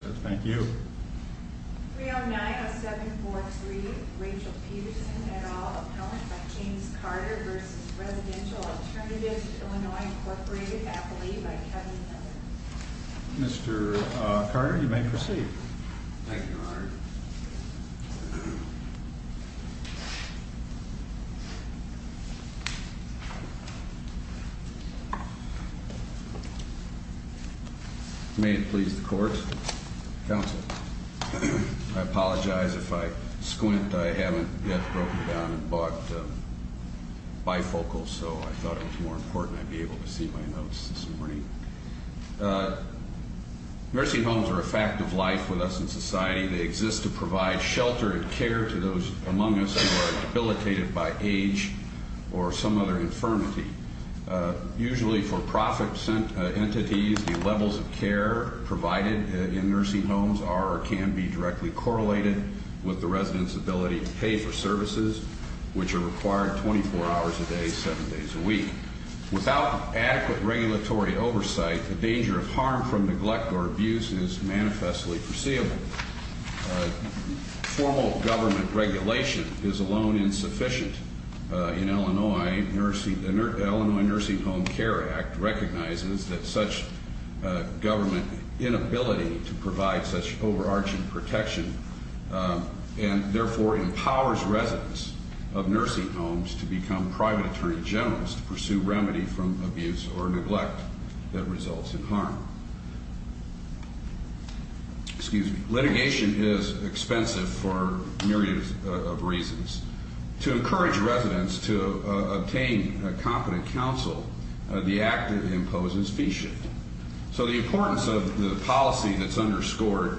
3090743 Rachel Peterson, et al. Appellant by James Carter v. Residential Alternatives of Illinois, Inc. Appellee by Kevin Miller Mr. Carter, you may proceed. Thank you, Your Honor. May it please the Court. Counsel. I apologize if I squint. I haven't yet broken down and bought bifocals, so I thought it was more important I'd be able to see my notes this morning. Nursing homes are a fact of life with us in society. They exist to provide shelter and care to those among us who are debilitated by age or some other infirmity. Usually for-profit entities, the levels of care provided in nursing homes are or can be directly correlated with the resident's ability to pay for services, which are required 24 hours a day, 7 days a week. Without adequate regulatory oversight, the danger of harm from neglect or abuse is manifestly foreseeable. Formal government regulation is alone insufficient. The Illinois Nursing Home Care Act recognizes that such government inability to provide such overarching protection and therefore empowers residents of nursing homes to become private attorney generals to pursue remedy from abuse or neglect that results in harm. Excuse me. Litigation is expensive for a myriad of reasons. To encourage residents to obtain competent counsel, the act imposes fee shift. So the importance of the policy that's underscored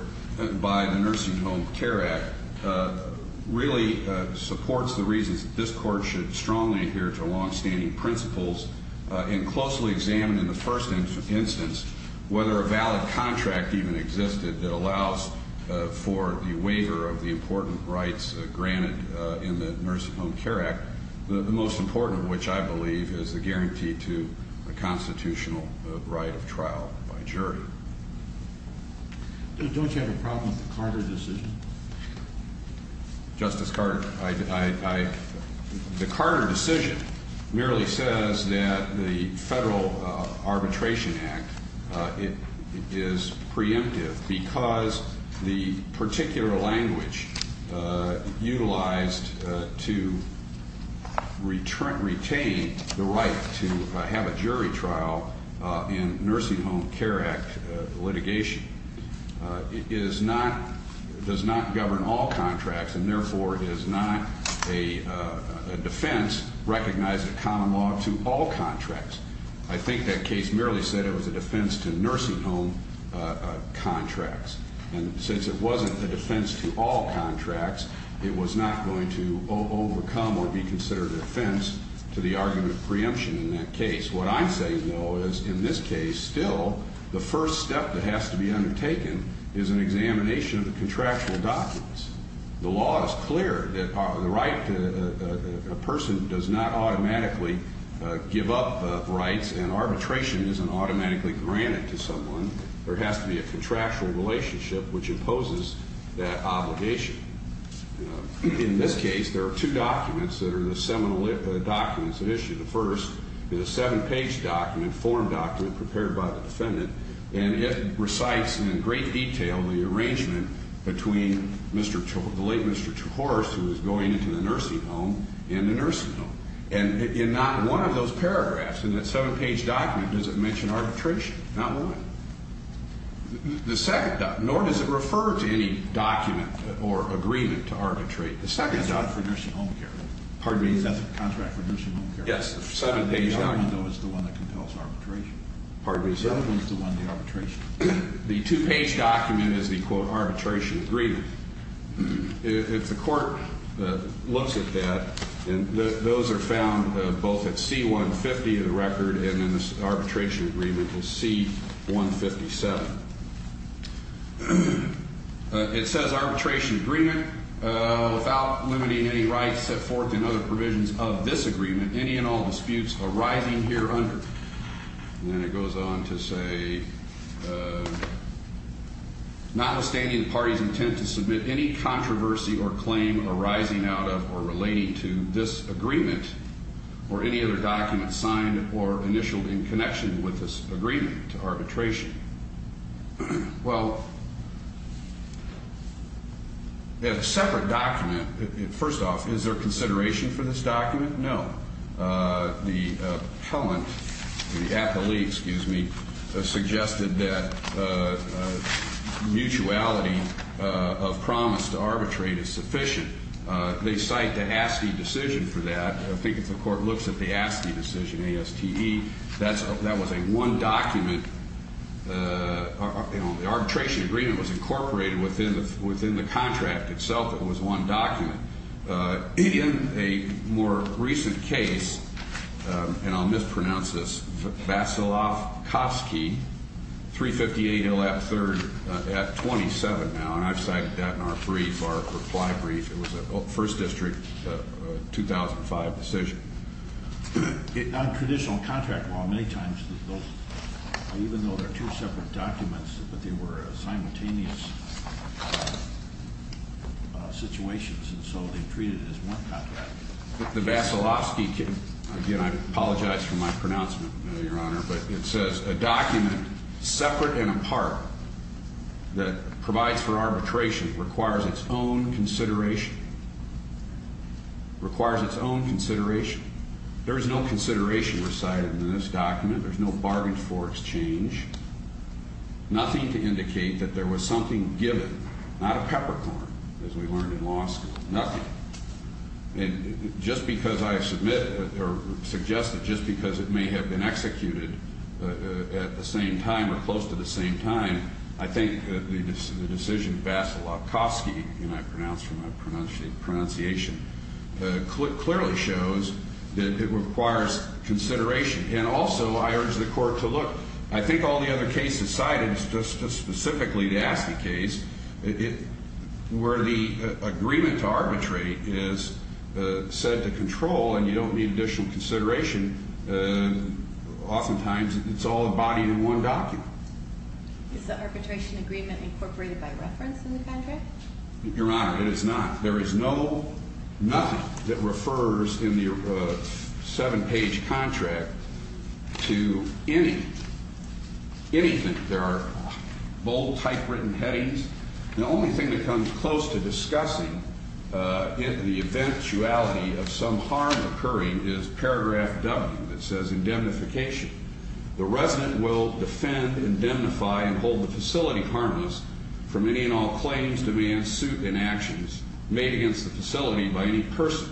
by the Nursing Home Care Act really supports the reasons that this court should strongly adhere to longstanding principles and closely examine in the first instance whether a valid contract even existed that allows for the waiver of the important rights granted in the Nursing Home Care Act, the most important of which I believe is the guarantee to a constitutional right of trial by jury. Don't you have a problem with the Carter decision? Justice Carter, the Carter decision merely says that the Federal Arbitration Act is preemptive because the particular language utilized to retain the right to have a jury trial in Nursing Home Care Act litigation. It is not, does not govern all contracts and therefore is not a defense recognized a common law to all contracts. I think that case merely said it was a defense to nursing home contracts. And since it wasn't a defense to all contracts, it was not going to overcome or be considered a defense to the argument of preemption in that case. What I'm saying, though, is in this case still the first step that has to be undertaken is an examination of the contractual documents. The law is clear that the right to a person does not automatically give up rights and arbitration isn't automatically granted to someone. There has to be a contractual relationship which imposes that obligation. In this case, there are two documents that are the seminal documents that issue. The first is a seven page document, form document prepared by the defendant. And it recites in great detail the arrangement between Mr. The late Mr. Horace, who is going into the nursing home in the nursing home. And in not one of those paragraphs in that seven page document, does it mention arbitration? Not one. The second, nor does it refer to any document or agreement to arbitrate. The second. For nursing home care. Pardon me. That's a contract for nursing home care. Yes. The seven page document is the one that compels arbitration. Pardon me. The other one is the one, the arbitration. The two page document is the quote arbitration agreement. If the court looks at that, and those are found both at C-150, the record, and in this arbitration agreement is C-157. It says arbitration agreement without limiting any rights set forth in other provisions of this agreement. Any and all disputes arising here under. And then it goes on to say. Notwithstanding the party's intent to submit any controversy or claim arising out of or relating to this agreement. Or any other document signed or initialed in connection with this agreement to arbitration. Well. A separate document. First off, is there consideration for this document? No. The appellant. The appellee. Excuse me. Suggested that. Mutuality of promise to arbitrate is sufficient. They cite the ASCII decision for that. I think if the court looks at the ASCII decision, A-S-T-E, that was a one document. The arbitration agreement was incorporated within the contract itself. It was one document. In a more recent case. And I'll mispronounce this. Vassilov-Kosky. 358 L.F. 3rd at 27 now. And I've cited that in our brief, our reply brief. It was a First District 2005 decision. On traditional contract law, many times those. Even though they're two separate documents. But they were simultaneous. Situations. And so they treated it as one contract. The Vassilov-Kosky. Again, I apologize for my pronouncement, Your Honor. But it says a document separate and apart. That provides for arbitration. Requires its own consideration. Requires its own consideration. There is no consideration recited in this document. There's no bargain for exchange. Nothing to indicate that there was something given. Not a peppercorn. As we learned in law school. Nothing. And just because I have submitted. Or suggested. Just because it may have been executed. At the same time. Or close to the same time. I think the decision. Vassilov-Kosky. And I pronounce from my pronunciation. Clearly shows. That it requires consideration. And also I urge the court to look. I think all the other cases cited. Just specifically the Askey case. Where the agreement to arbitrate is. Said to control. And you don't need additional consideration. Often times. It's all embodied in one document. Is the arbitration agreement incorporated by reference in the contract? Your Honor. It is not. There is no. Nothing. That refers in the. Seven page contract. To any. Anything. There are. Bold type written headings. The only thing that comes close to discussing. The eventuality of some harm occurring. Is paragraph W. That says indemnification. The resident will defend. Indemnify. And hold the facility harmless. For many and all claims. Demands. Suit. Inactions. Made against the facility. By any person.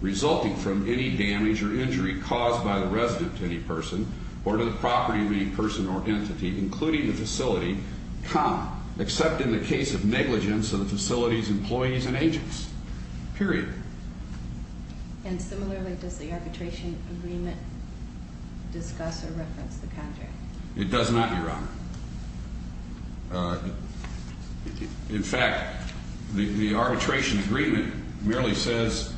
Resulting from any damage. Or injury. Caused by the resident. To any person. Or to the property. Of any person. Or entity. Including the facility. Come. Except in the case of negligence. Of the facilities. Employees. And agents. Period. And similarly. Does the arbitration. Agreement. Discuss. Or reference. The contract. It does not. Your Honor. In fact. The arbitration. Agreement. Merely says.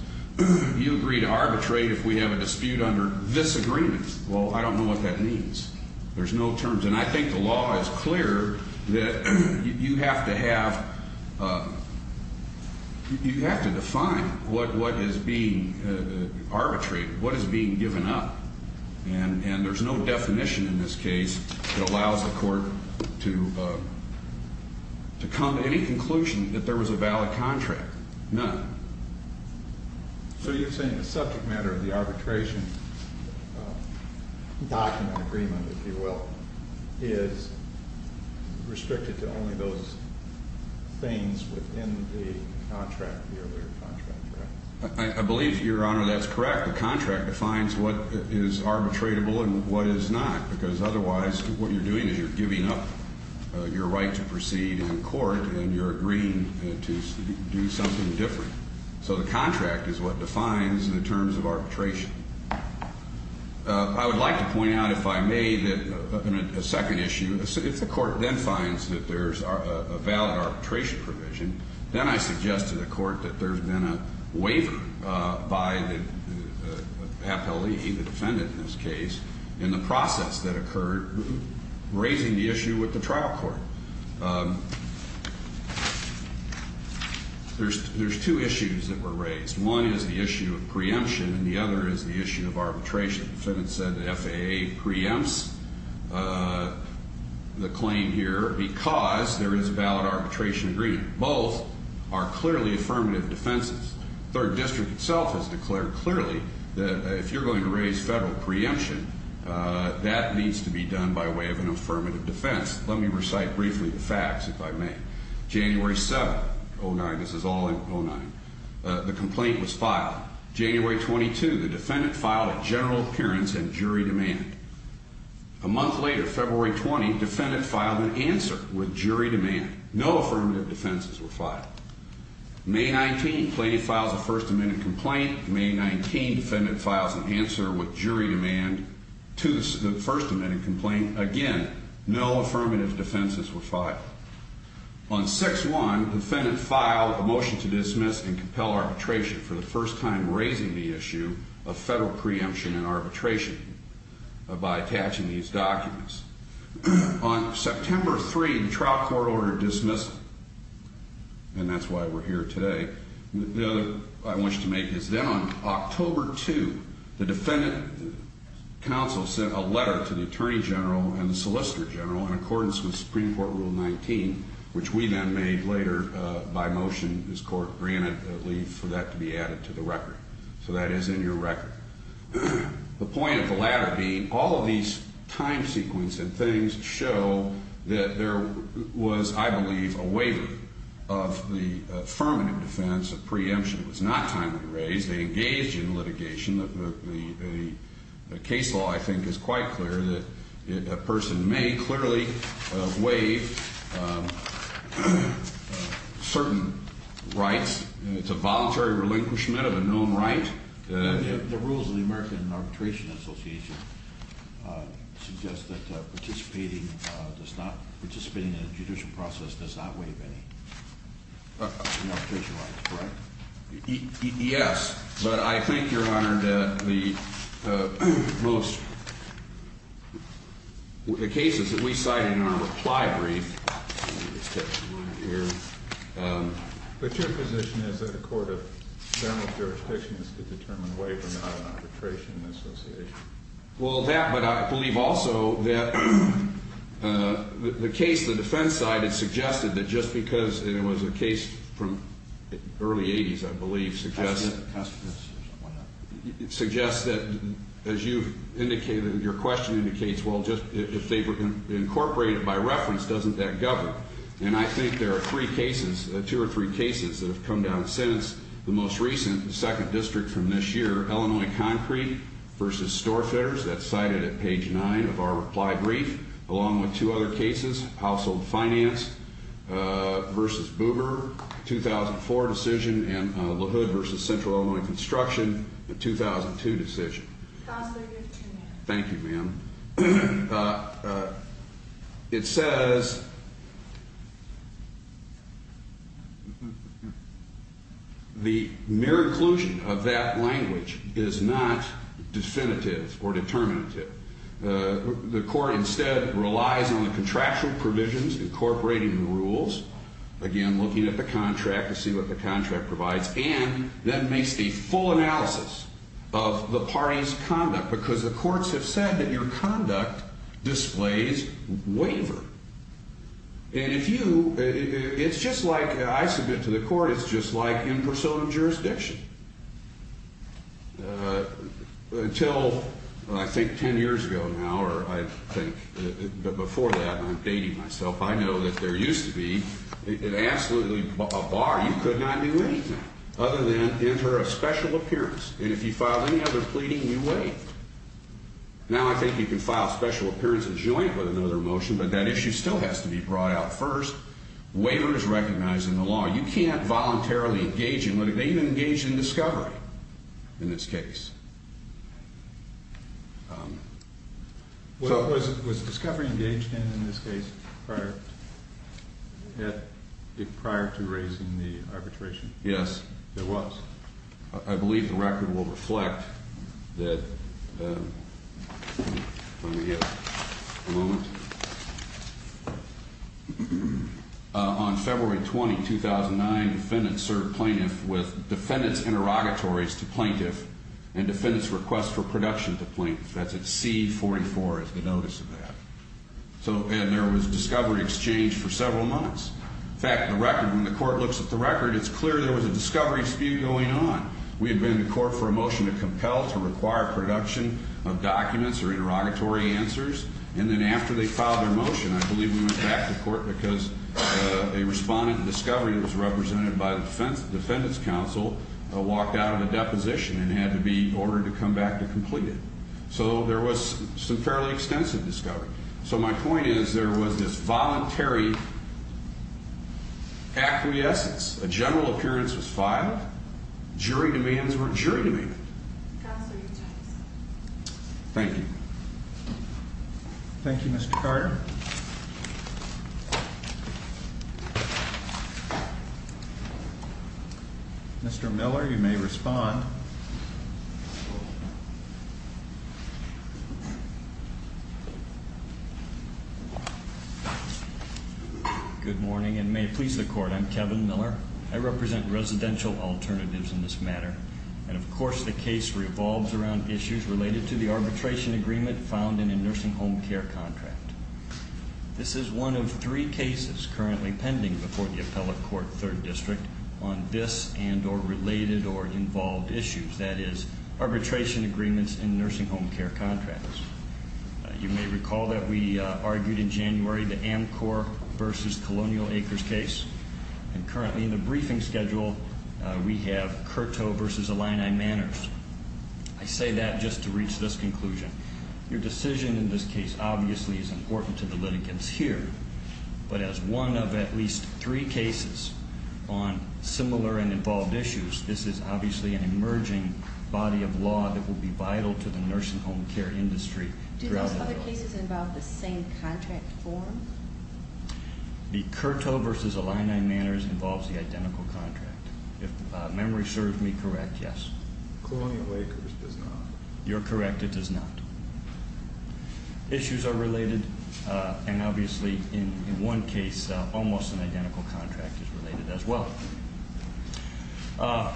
You agree to arbitrate. If we have a dispute. Under this agreement. Well. I don't know. What that means. There's no terms. And I think the law is clear. That. You have to have. You have to define. What. What is being. Arbitrated. What is being given up. And. And there's no definition. In this case. That allows the court. To. To come to any conclusion. That there was a valid contract. None. So you're saying. The subject matter. Of the arbitration. Document. Agreement. If you will. Is. Restricted. To only those. Things. In the. Contract. I believe. Your Honor. That's correct. The contract. Defines. What. Is arbitratable. And what is not. Because otherwise. What you're doing. Is you're giving up. Your right. To proceed. In court. And you're agreeing. To. Do something different. So the contract. Is what defines. The terms of arbitration. I would like. To point out. If I may. That. A second issue. If the court. Then finds. That there's. A valid arbitration. Provision. Then I suggest. To the court. That there's been a. Waiver. By the. Appellee. The defendant. In this case. In the process. That occurred. Raising the issue. With the trial court. There's. There's two issues. That were raised. One. Is the issue. Of preemption. And the other. Is the issue. Of arbitration. The defendant said. That FAA. Preempts. The claim. Here. Because. There is a valid arbitration. Agreement. Both. Are clearly. Affirmative. Defenses. Third district. Itself. Has declared. Clearly. That. If you're going. To raise federal. Preemption. That needs. To be done. By way. Of an affirmative. Defense. Let me recite. Briefly. The facts. If I may. January seven. Oh, this is all. The complaint was filed. January 22. The defendant filed. A general. Currence and jury. Demand. A month later. February 20. Defendant filed incence. With jury. No affirmative. Defenses. May. 19. Place files. The first amendment. Complaint. May 19. Defendant files an answer. With jury. To the first amendment. It compliance again. No affirmative. Defenses were. On six one. Defendant filed. A motion to dismiss. And compel arbitration. For the first time. Raising the issue. Of federal preemption. And arbitration. By attaching these documents. On September three. The trial court. Ordered dismissal. And that's why we're here today. The other. I want you to make this. Then on October two. To the attorney general. And the solicitor general. In accordance with. Supreme court. Rule. Ninety-five. On September three. The trial court. Ordered dismissal. On September three. Which we then made later. By motion. This court granted. That leave. For that to be added to the record. So that is in your record. The point of the latter being. All of these. Time sequence. Things show. That there. Was. I believe a waiver. Of the affirmative defense. Of preemption. Was not timely raised. They engage in litigation. The case law. I think is quite clear. That a person may. Clearly. Waive. Certain. Rights. It's a voluntary relinquishment. Of a known right. The rules of the American. Arbitration Association. Suggest that. Participating. Does not. Participating in the judicial process. Does not waive any. Arbitration rights. Correct? Yes. But I think. Your honor. That the. Most. The cases. That we cited. In our reply. Brief. Here. But your position. Is that the court. Of. General. Jurisdiction. Is to determine. A waiver. Not an arbitration. Association. Well. That. But I believe. Also. That. The case. The defense side. It suggested. That just because. It was a case. From. Early 80s. I believe. Suggest. Suggest. That. As you. Indicated. Your question. Indicates. Well. Just. If they were. Incorporated. By reference. Doesn't that. Govern. And I think. There are three cases. Two or three cases. That have come down. Since. The most recent. Second district. From this year. Illinois. Concrete. Versus. Storefitters. That's cited. At page. Nine. Of our reply. Brief. And. Along with. Two other cases. Household. Finance. Versus. Boomer. 2004. Decision. And. The hood. Versus. Central. Illinois. Construction. 2002. Decision. Thank you. Ma'am. It says. The mere. Inclusion. Of that. Language. Is not. Definitive. Or. Determinative. The court. Instead. Relies. On the contractual. Provisions. Incorporating. The rules. Again. Looking at the contract. To see what the contract. Provides. And. That makes. The full analysis. Of the parties. Conduct. Because the courts. Have said. That your conduct. Displays. Waiver. And if you. It's just like. I submit. To the court. It's just like. In persona. Jurisdiction. Until. I think. Ten years ago. Now. Or. I think. Before that. I'm dating myself. I know. That there used to be. Absolutely. A bar. You could not. Do anything. Other than. Enter a special appearance. And if you file. Any other pleading. You wait. Now. I think you can file. Special appearances. Joint. With another motion. But that issue. Still has to be brought out. First. Waiver is recognized. In the law. You can't. Voluntarily. Engage in litigation. Engage in discovery. In this case. So. Was discovery. Engaged in. In this case. Prior. Prior to raising. The arbitration. Yes. There was. I believe. The record will reflect. That. Let me get. A moment. On February. 20. 2009. Defendant. Sir. Defendants. Interrogatories. To plaintiff. And defendants. Request. For production. To plaintiff. That's it. C. 44. Is the notice of that. So. And there was discovery. Exchange. For several months. In fact. The record. When the court. Looks at the record. It's clear. There was a discovery. Spew. Going on. We had been in court. For a motion. To compel. To require production. Of documents. And then. We went back to court. A respondent. Discovery. Was represented. By the defense. Defendants. Counsel. Walked out. Of a deposition. And had to be. Ordered to come back. To complete it. So. There was. Some fairly extensive. Discovery. So. My point is. There was. This voluntary. Acquiescence. A general. Appearance. Was filed. Jury. Demands were. Jury. Was filed. We believe. Thank you. Thank you. Mr. Carter. Mr. Miller. You may. Respond. Uh. Good morning. And may. Please. I represent. Residential alternatives. In this manner. And of course. I'm here to make the. Lay out of this case. And of course. The case. Revolves around issues. Related to the arbitration agreement. Found in a nursing home. Care contract. This is one. Of three cases. Currently pending. Before the appellate court. Third district. On this. And or related. Or involved. Issues that is. Arbitration agreements. In nursing home. Care contracts. You may recall. That we. Uh. Argued in January. The am core. Versus colonial. Acres case. And currently. In the briefing schedule. Uh. We have. Uh. Curto. Versus a line. I manners. I say that. Just to reach. This conclusion. Your decision. In this case. Obviously. Is important. To the litigants here. But as one. Of at least. Three cases. On similar. And involved issues. This is obviously. An emerging. Body of law. That will be vital. To the nursing home. Care industry. Throughout. Other cases. Involve the same. Contract form. The curto. Versus a line. I manners. Involves the identical. Contract. If memory serves me. Correct. Yes. Colonial. Acres. Does not. You're correct. It does not. Issues are related. Uh. And obviously. In one case. Almost an identical. Contract. Is related. As well. Uh.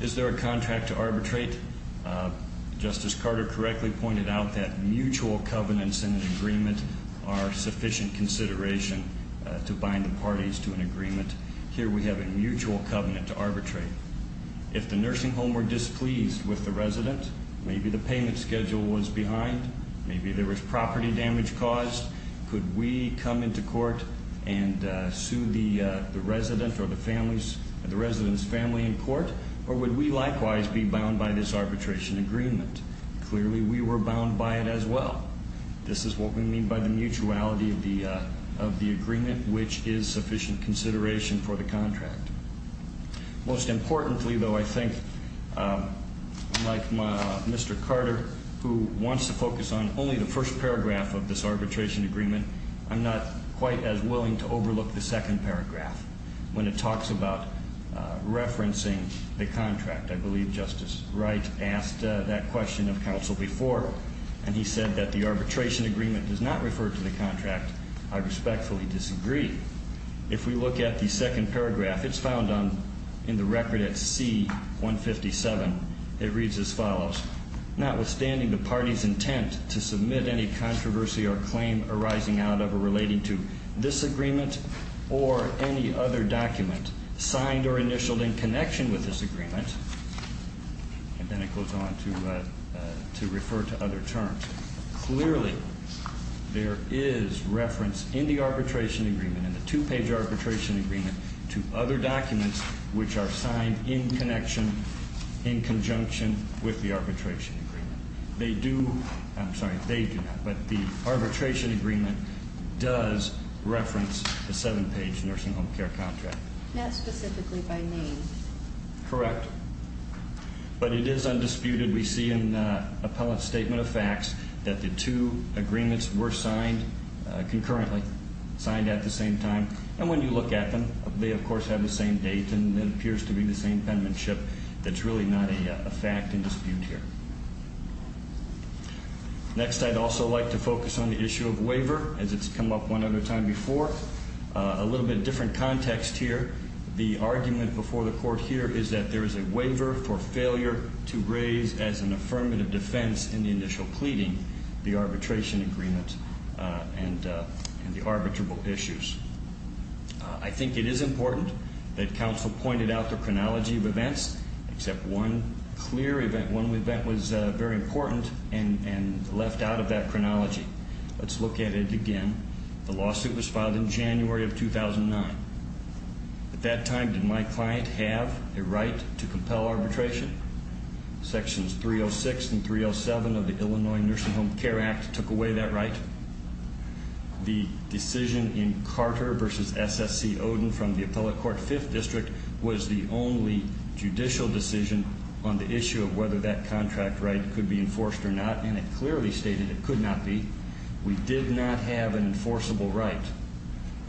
Is there a contract. To arbitrate. Uh. Justice. Carter correctly. Pointed out. That mutual. Covenants. And agreement. Are sufficient. Consideration. Uh. To bind the parties. To an agreement. Here we have a mutual. Covenant. To arbitrate. If the nursing home. Were displeased. With the resident. Maybe the payment schedule. Was behind. Maybe there was. Property damage. Caused. Could we. Come into court. And uh. Sue the uh. The resident. Or the families. The residents. Family in court. Or would we likewise. Be bound by this arbitration. Agreement. Clearly we were bound. By it as well. This is what we mean. By the mutuality. Of the uh. Of the agreement. Which is sufficient. Consideration. For the contract. Most importantly. Though I think. Uh. Like my. Mr. Carter. Who wants to focus on. Only the first paragraph. Of this arbitration. Agreement. I'm not. Quite as willing. To overlook. The second paragraph. When it talks about. Uh. Referencing. The contract. I believe Justice. Wright. Asked that question. Of counsel before. And he said. That the arbitration. Agreement. Does not refer. To the contract. I respectfully. Disagree. If we look at. The second paragraph. It's found on. In the record. At C. 157. It reads as follows. Notwithstanding. The party's intent. To submit any. Controversy. Or claim. Arising out of. Or relating to. This agreement. Or any. Other document. Signed or initialed. In connection. With this agreement. And then it goes on. To uh. To refer. To other terms. Clearly. There is. Reference. In the arbitration. Agreement. In the two page arbitration. Agreement. To other documents. Which are signed. In connection. In conjunction. With the arbitration. Agreement. They do. I'm sorry. They do not. But the arbitration. Agreement. Does. Reference. The seven page. Nursing home care contract. Not specifically. By name. Correct. But it is. Undisputed. We see in. Uh. Appellate statement of facts. That the two. Agreements. Were signed. Uh. Concurrently. Signed at the same time. And when you look at them. They of course. Have the same date. And it appears to be. The same penmanship. That's really not a. A fact. And dispute here. Next. I'd also like. To focus on the issue. Of waiver. As it's come up. One other time. Before. Uh. A little bit different context. Here. The argument. Before the court. Here. Is that there is a waiver. For failure. To raise. As an affirmative defense. In the initial pleading. The arbitration agreement. Uh. And uh. And the arbitrable issues. Uh. I think it is important. That counsel pointed out. The chronology of events. Except one. Clear event. One event. Was uh. Very important. Left out of that chronology. Let's look at it again. The lawsuit was filed. In January. Of 2009. At that time. Did my client have. A waiver. A right. To compel arbitration. Sections. 306. And 307. Of the Illinois. Nursing Home Care Act. Took away that right. The decision. In Carter. Versus SSC. Odin. From the appellate court. Fifth district. Was the only. Judicial decision. On the issue. Of whether that contract. Right. Could be enforced or not. And it clearly stated. It could not be. We did not have. An enforceable right.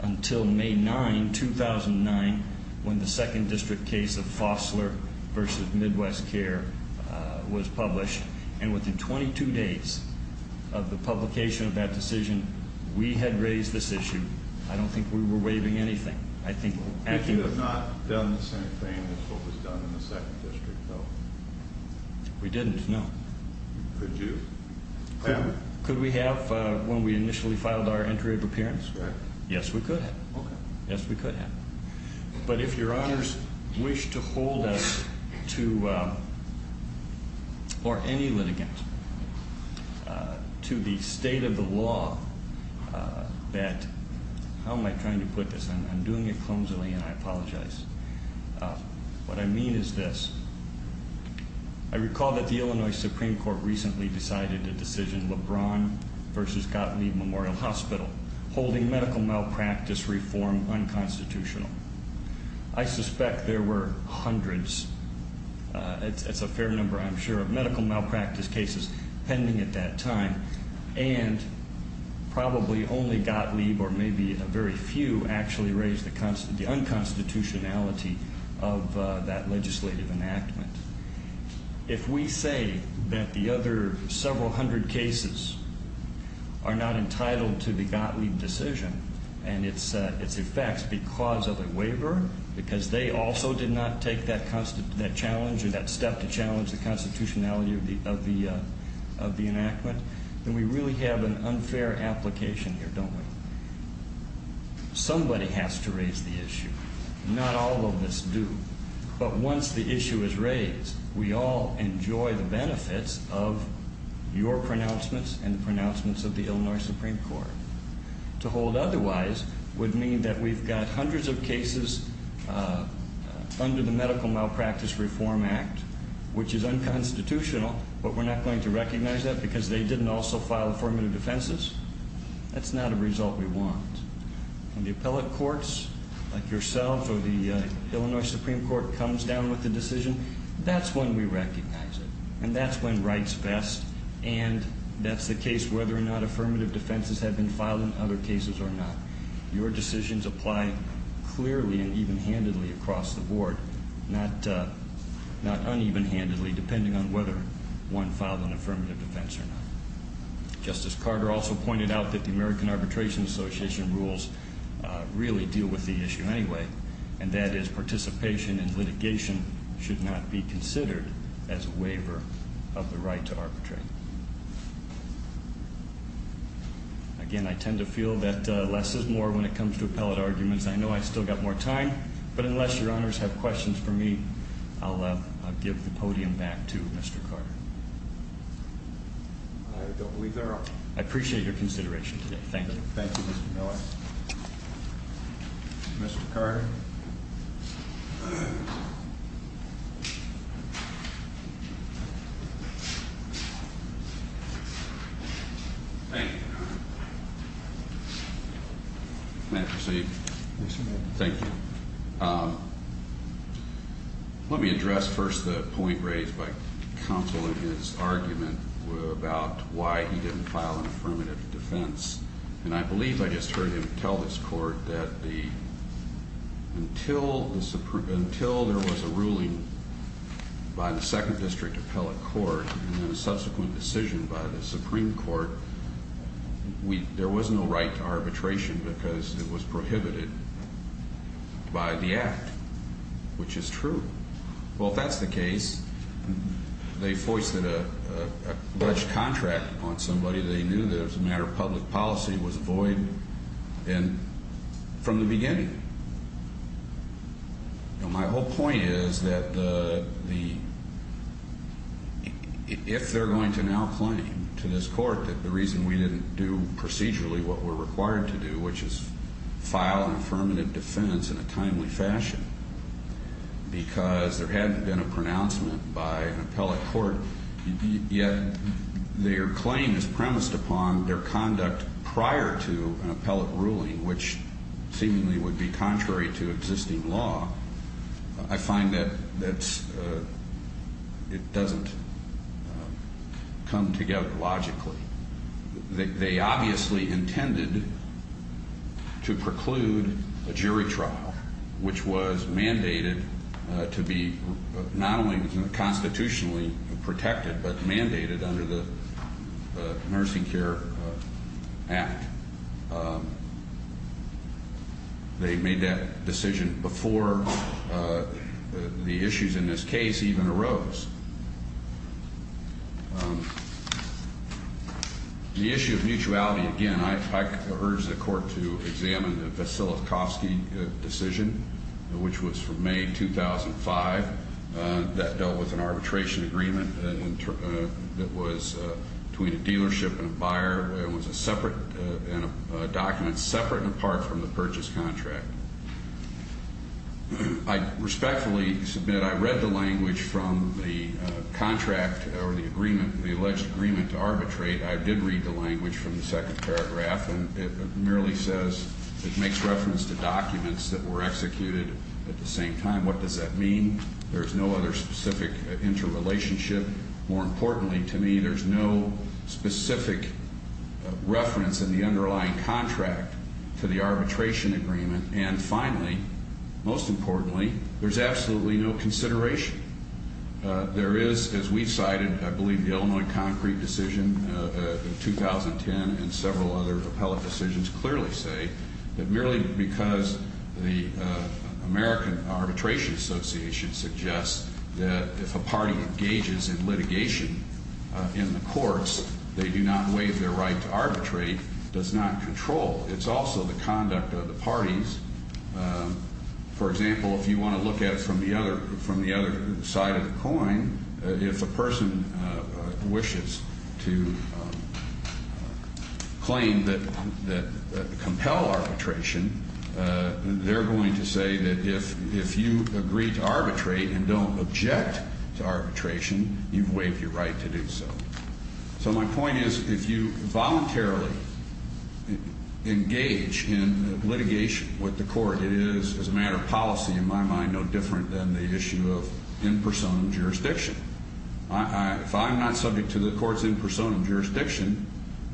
Until May. 9. 2009. When the second district. Case of. Fossler. Versus Midwest Care. Was published. And within 22 days. Of the publication. Of that decision. We had raised this issue. I don't think. We were waiving anything. I think. If you have not. Done the same thing. As what was done. In the second district. So. We didn't. No. Could you. Could we have. When we initially filed. Our entry of appearance. Right. Yes we could. Okay. Yes we could have. But if your honors. Wish to hold. To. Or any litigant. To the state of the law. That. How am I trying to put this. I'm doing it clumsily. And I apologize. What I mean. Is this. I recall. That the Illinois Supreme Court. Recently decided. A decision. LeBron. Reform. Unconstitutional. I suspect. There were. Hundreds. Of people. Who were. Who were. Who were. Who were. Who were. Unconstitutional. There were hundreds. At. It's a fair number. I'm sure. Medical. Malpractice. Pending at. That time. And. Probably only. Got me. Or maybe. A very few actually. Raised the constant. The unconstitutionality. Of that legislative. Enactment. If we say. That. The other. Several hundred cases. Are not. Entitled to. Begotten. Decision. And. It's a. It's a fact. Because. Of a waiver. Because. They also. Did not. Take that constant. That challenge. Or that step. To challenge. The constitutionality. Of the. Of the. Of the enactment. And we really have. An unfair application. Here don't we. Somebody has to raise. The issue. Not all of us do. But once the issue. Is raised. We all. Enjoy the benefits. Of. Your pronouncements. And the pronouncements. Of the Illinois Supreme Court. To hold. Otherwise. Would mean. That we've got. Hundreds of cases. Under the medical. Malpractice. Reform. Act. Which is unconstitutional. But we're not. Going to recognize that. Because they didn't also. File affirmative. Defenses. That's not a result. We want. In the appellate courts. Like yourself. Or the. Illinois Supreme Court. Comes down. With the decision. That's when. We recognize it. And that's when. Rights vest. And. That's the case. Whether or not affirmative. Defenses have been filed. In other cases. Or not. Your decisions apply. Clearly. And even. Handedly. Across the board. Not. Not uneven. Handedly. Depending on whether. One filed an affirmative. Defense or not. Justice. Carter. Also pointed out. That the American Arbitration. Association rules. Really deal. With the issue. Anyway. And that is participation. In litigation. Should not be. Considered. As a waiver. Of the right. To arbitrate. Again. I tend to feel. That. Less is more. When it comes to. Appellate arguments. I know. I still got more time. But unless. Your honors. Have questions for me. I'll. Give the podium. Back to. Mr. Carter. I don't believe. There are. I appreciate. Your consideration. Today. Thank you. Thank you. Mr. Miller. Mr. Carter. Thank you. May I proceed? Yes, you may. Thank you. Let me address. First. The point. Raised. By. Counsel. In his. Argument. About. Why? He didn't. Defense. And I. Believe. I just heard him. Tell this. Court. That the. The. The. The. The. The. The. The. The. The. The. The The. The. The. The. We the know who. Unfortunate truth. The. Was person. Carriehan. Wants. A whole. We do know who. My whole point is that the. If they're going to now claim to this court that the reason we didn't do procedurally what we're required to do, which is file an affirmative defense in a timely fashion. Because there hadn't been a pronouncement by an appellate court yet. Their claim is premised upon their conduct prior to an appellate ruling, which seemingly would be contrary to existing law. I find that that's. It doesn't. Come together logically. They obviously intended. To preclude a jury trial. Which was mandated to be not only constitutionally protected, but mandated under the. Nursing care. Act. They made that decision before. The issues in this case even arose. The issue of mutuality. Again, I urge the court to examine the facility. Kofsky decision, which was from May 2005 that dealt with an arbitration agreement that was between a dealership and a buyer. It was a separate document separate and apart from the purchase contract. I respectfully submit. I read the language from the. Contract or the agreement, the alleged agreement to arbitrate. I did read the language from the second paragraph, and it merely says it makes reference to documents that were executed at the same time. What does that mean? There's no other specific interrelationship. More importantly to me, there's no specific reference in the underlying contract to the arbitration agreement. And finally, most importantly, there's absolutely no consideration. There is, as we cited, I believe the Illinois concrete decision in 2010 and several other appellate decisions clearly say that merely because the American Arbitration Association suggests that if a party engages in litigation in the courts, they do not waive their right to arbitrate, does not control. It's also the conduct of the parties. For example, if you want to look at it from the other from the other side of the coin, if a person wishes to claim that that compel arbitration, they're going to say that if if you agree to arbitrate and don't object to arbitration, you've waived your right to do so. So my point is, if you voluntarily engage in litigation with the court, it is as a matter of policy in my mind, no different than the issue of in person jurisdiction. If I'm not subject to the court's in person jurisdiction,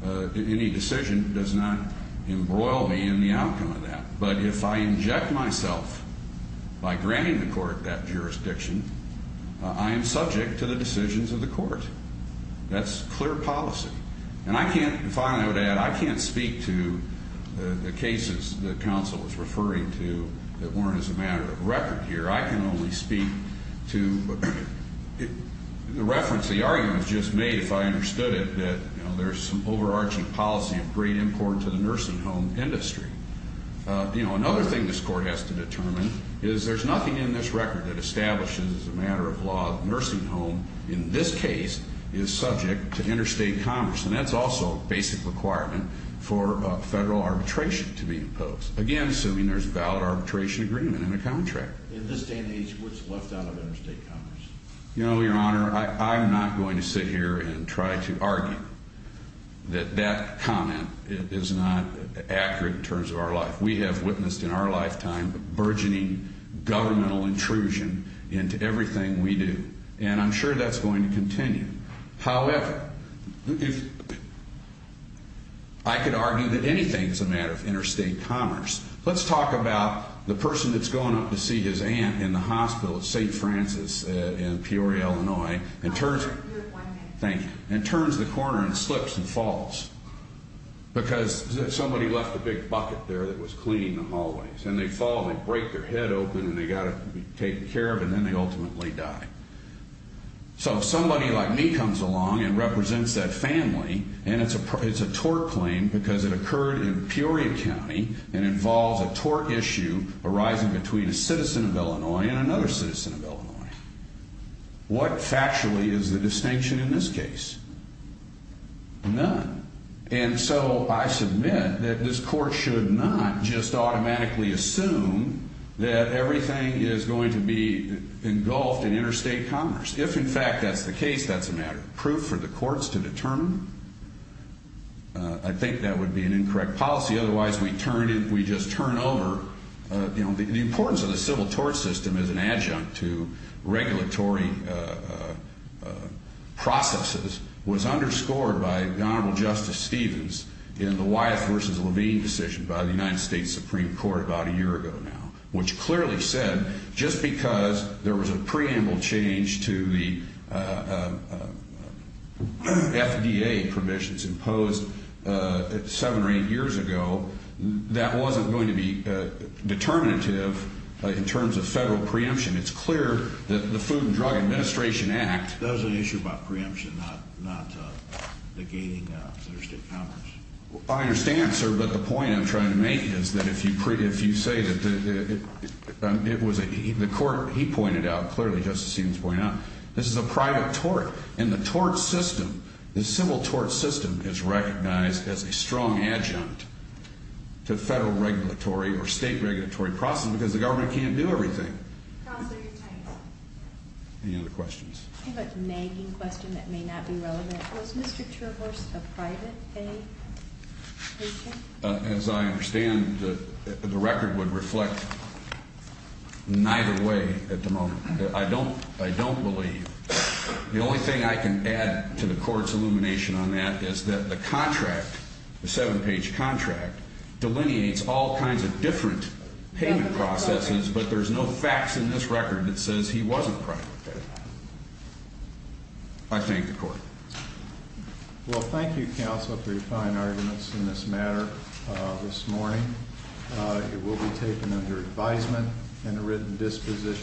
any decision does not embroil me in the outcome of that. But if I inject myself by granting the court that jurisdiction, I am subject to the decisions of the court. That's clear policy. And I can't find out that I can't speak to the cases. The council was referring to that weren't as a matter of record here. I can only speak to the reference. The argument was just made, if I understood it, that there's some overarching policy of great import to the nursing home industry. You know, another thing this court has to determine is there's nothing in this record that establishes a matter of law. Nursing home in this case is subject to interstate commerce. And that's also a basic requirement for federal arbitration to be imposed. Again, assuming there's a valid arbitration agreement and a contract in this day and age, what's left out of interstate commerce? You know, Your Honor, I'm not going to sit here and try to argue that that comment is not accurate in terms of our life. We have witnessed in our lifetime burgeoning governmental intrusion into everything we do. And I'm sure that's going to continue. However, I could argue that anything is a matter of interstate commerce. Let's talk about the person that's going up to see his aunt in the hospital at St. Francis in Peoria, Illinois, and turns the corner and slips and falls. Because somebody left a big bucket there that was cleaning the hallways. And they fall and they break their head open and they've got to be taken care of, and then they ultimately die. So if somebody like me comes along and represents that family, and it's a tort claim because it occurred in Peoria County and involves a tort issue arising between a citizen of Illinois and another citizen of Illinois, what factually is the distinction in this case? None. And so I submit that this court should not just automatically assume that everything is going to be engulfed in interstate commerce. If, in fact, that's the case, that's a matter of proof for the courts to determine. I think that would be an incorrect policy. Otherwise, we just turn over. The importance of the civil tort system as an adjunct to regulatory processes was underscored by Honorable Justice Stevens in the Wyeth v. Levine decision by the United States Supreme Court about a year ago now. Which clearly said, just because there was a preamble change to the FDA permissions imposed seven or eight years ago, that wasn't going to be determinative in terms of federal preemption. It's clear that the Food and Drug Administration Act... That was an issue about preemption, not negating interstate commerce. I understand, sir, but the point I'm trying to make is that if you say that it was a... The court, he pointed out clearly, Justice Stevens pointed out, this is a private tort. And the tort system, the civil tort system is recognized as a strong adjunct to federal regulatory or state regulatory processes because the government can't do everything. Counselor, you're time is up. Any other questions? I have a nagging question that may not be relevant. Was Mr. Terhorst a private pay patient? As I understand, the record would reflect neither way at the moment. I don't believe. The only thing I can add to the court's illumination on that is that the contract, the seven-page contract, delineates all kinds of different payment processes, but there's no facts in this record that says he wasn't a private pay. I thank the court. Well, thank you, Counselor, for your fine arguments in this matter this morning. It will be taken under advisement and a written disposition.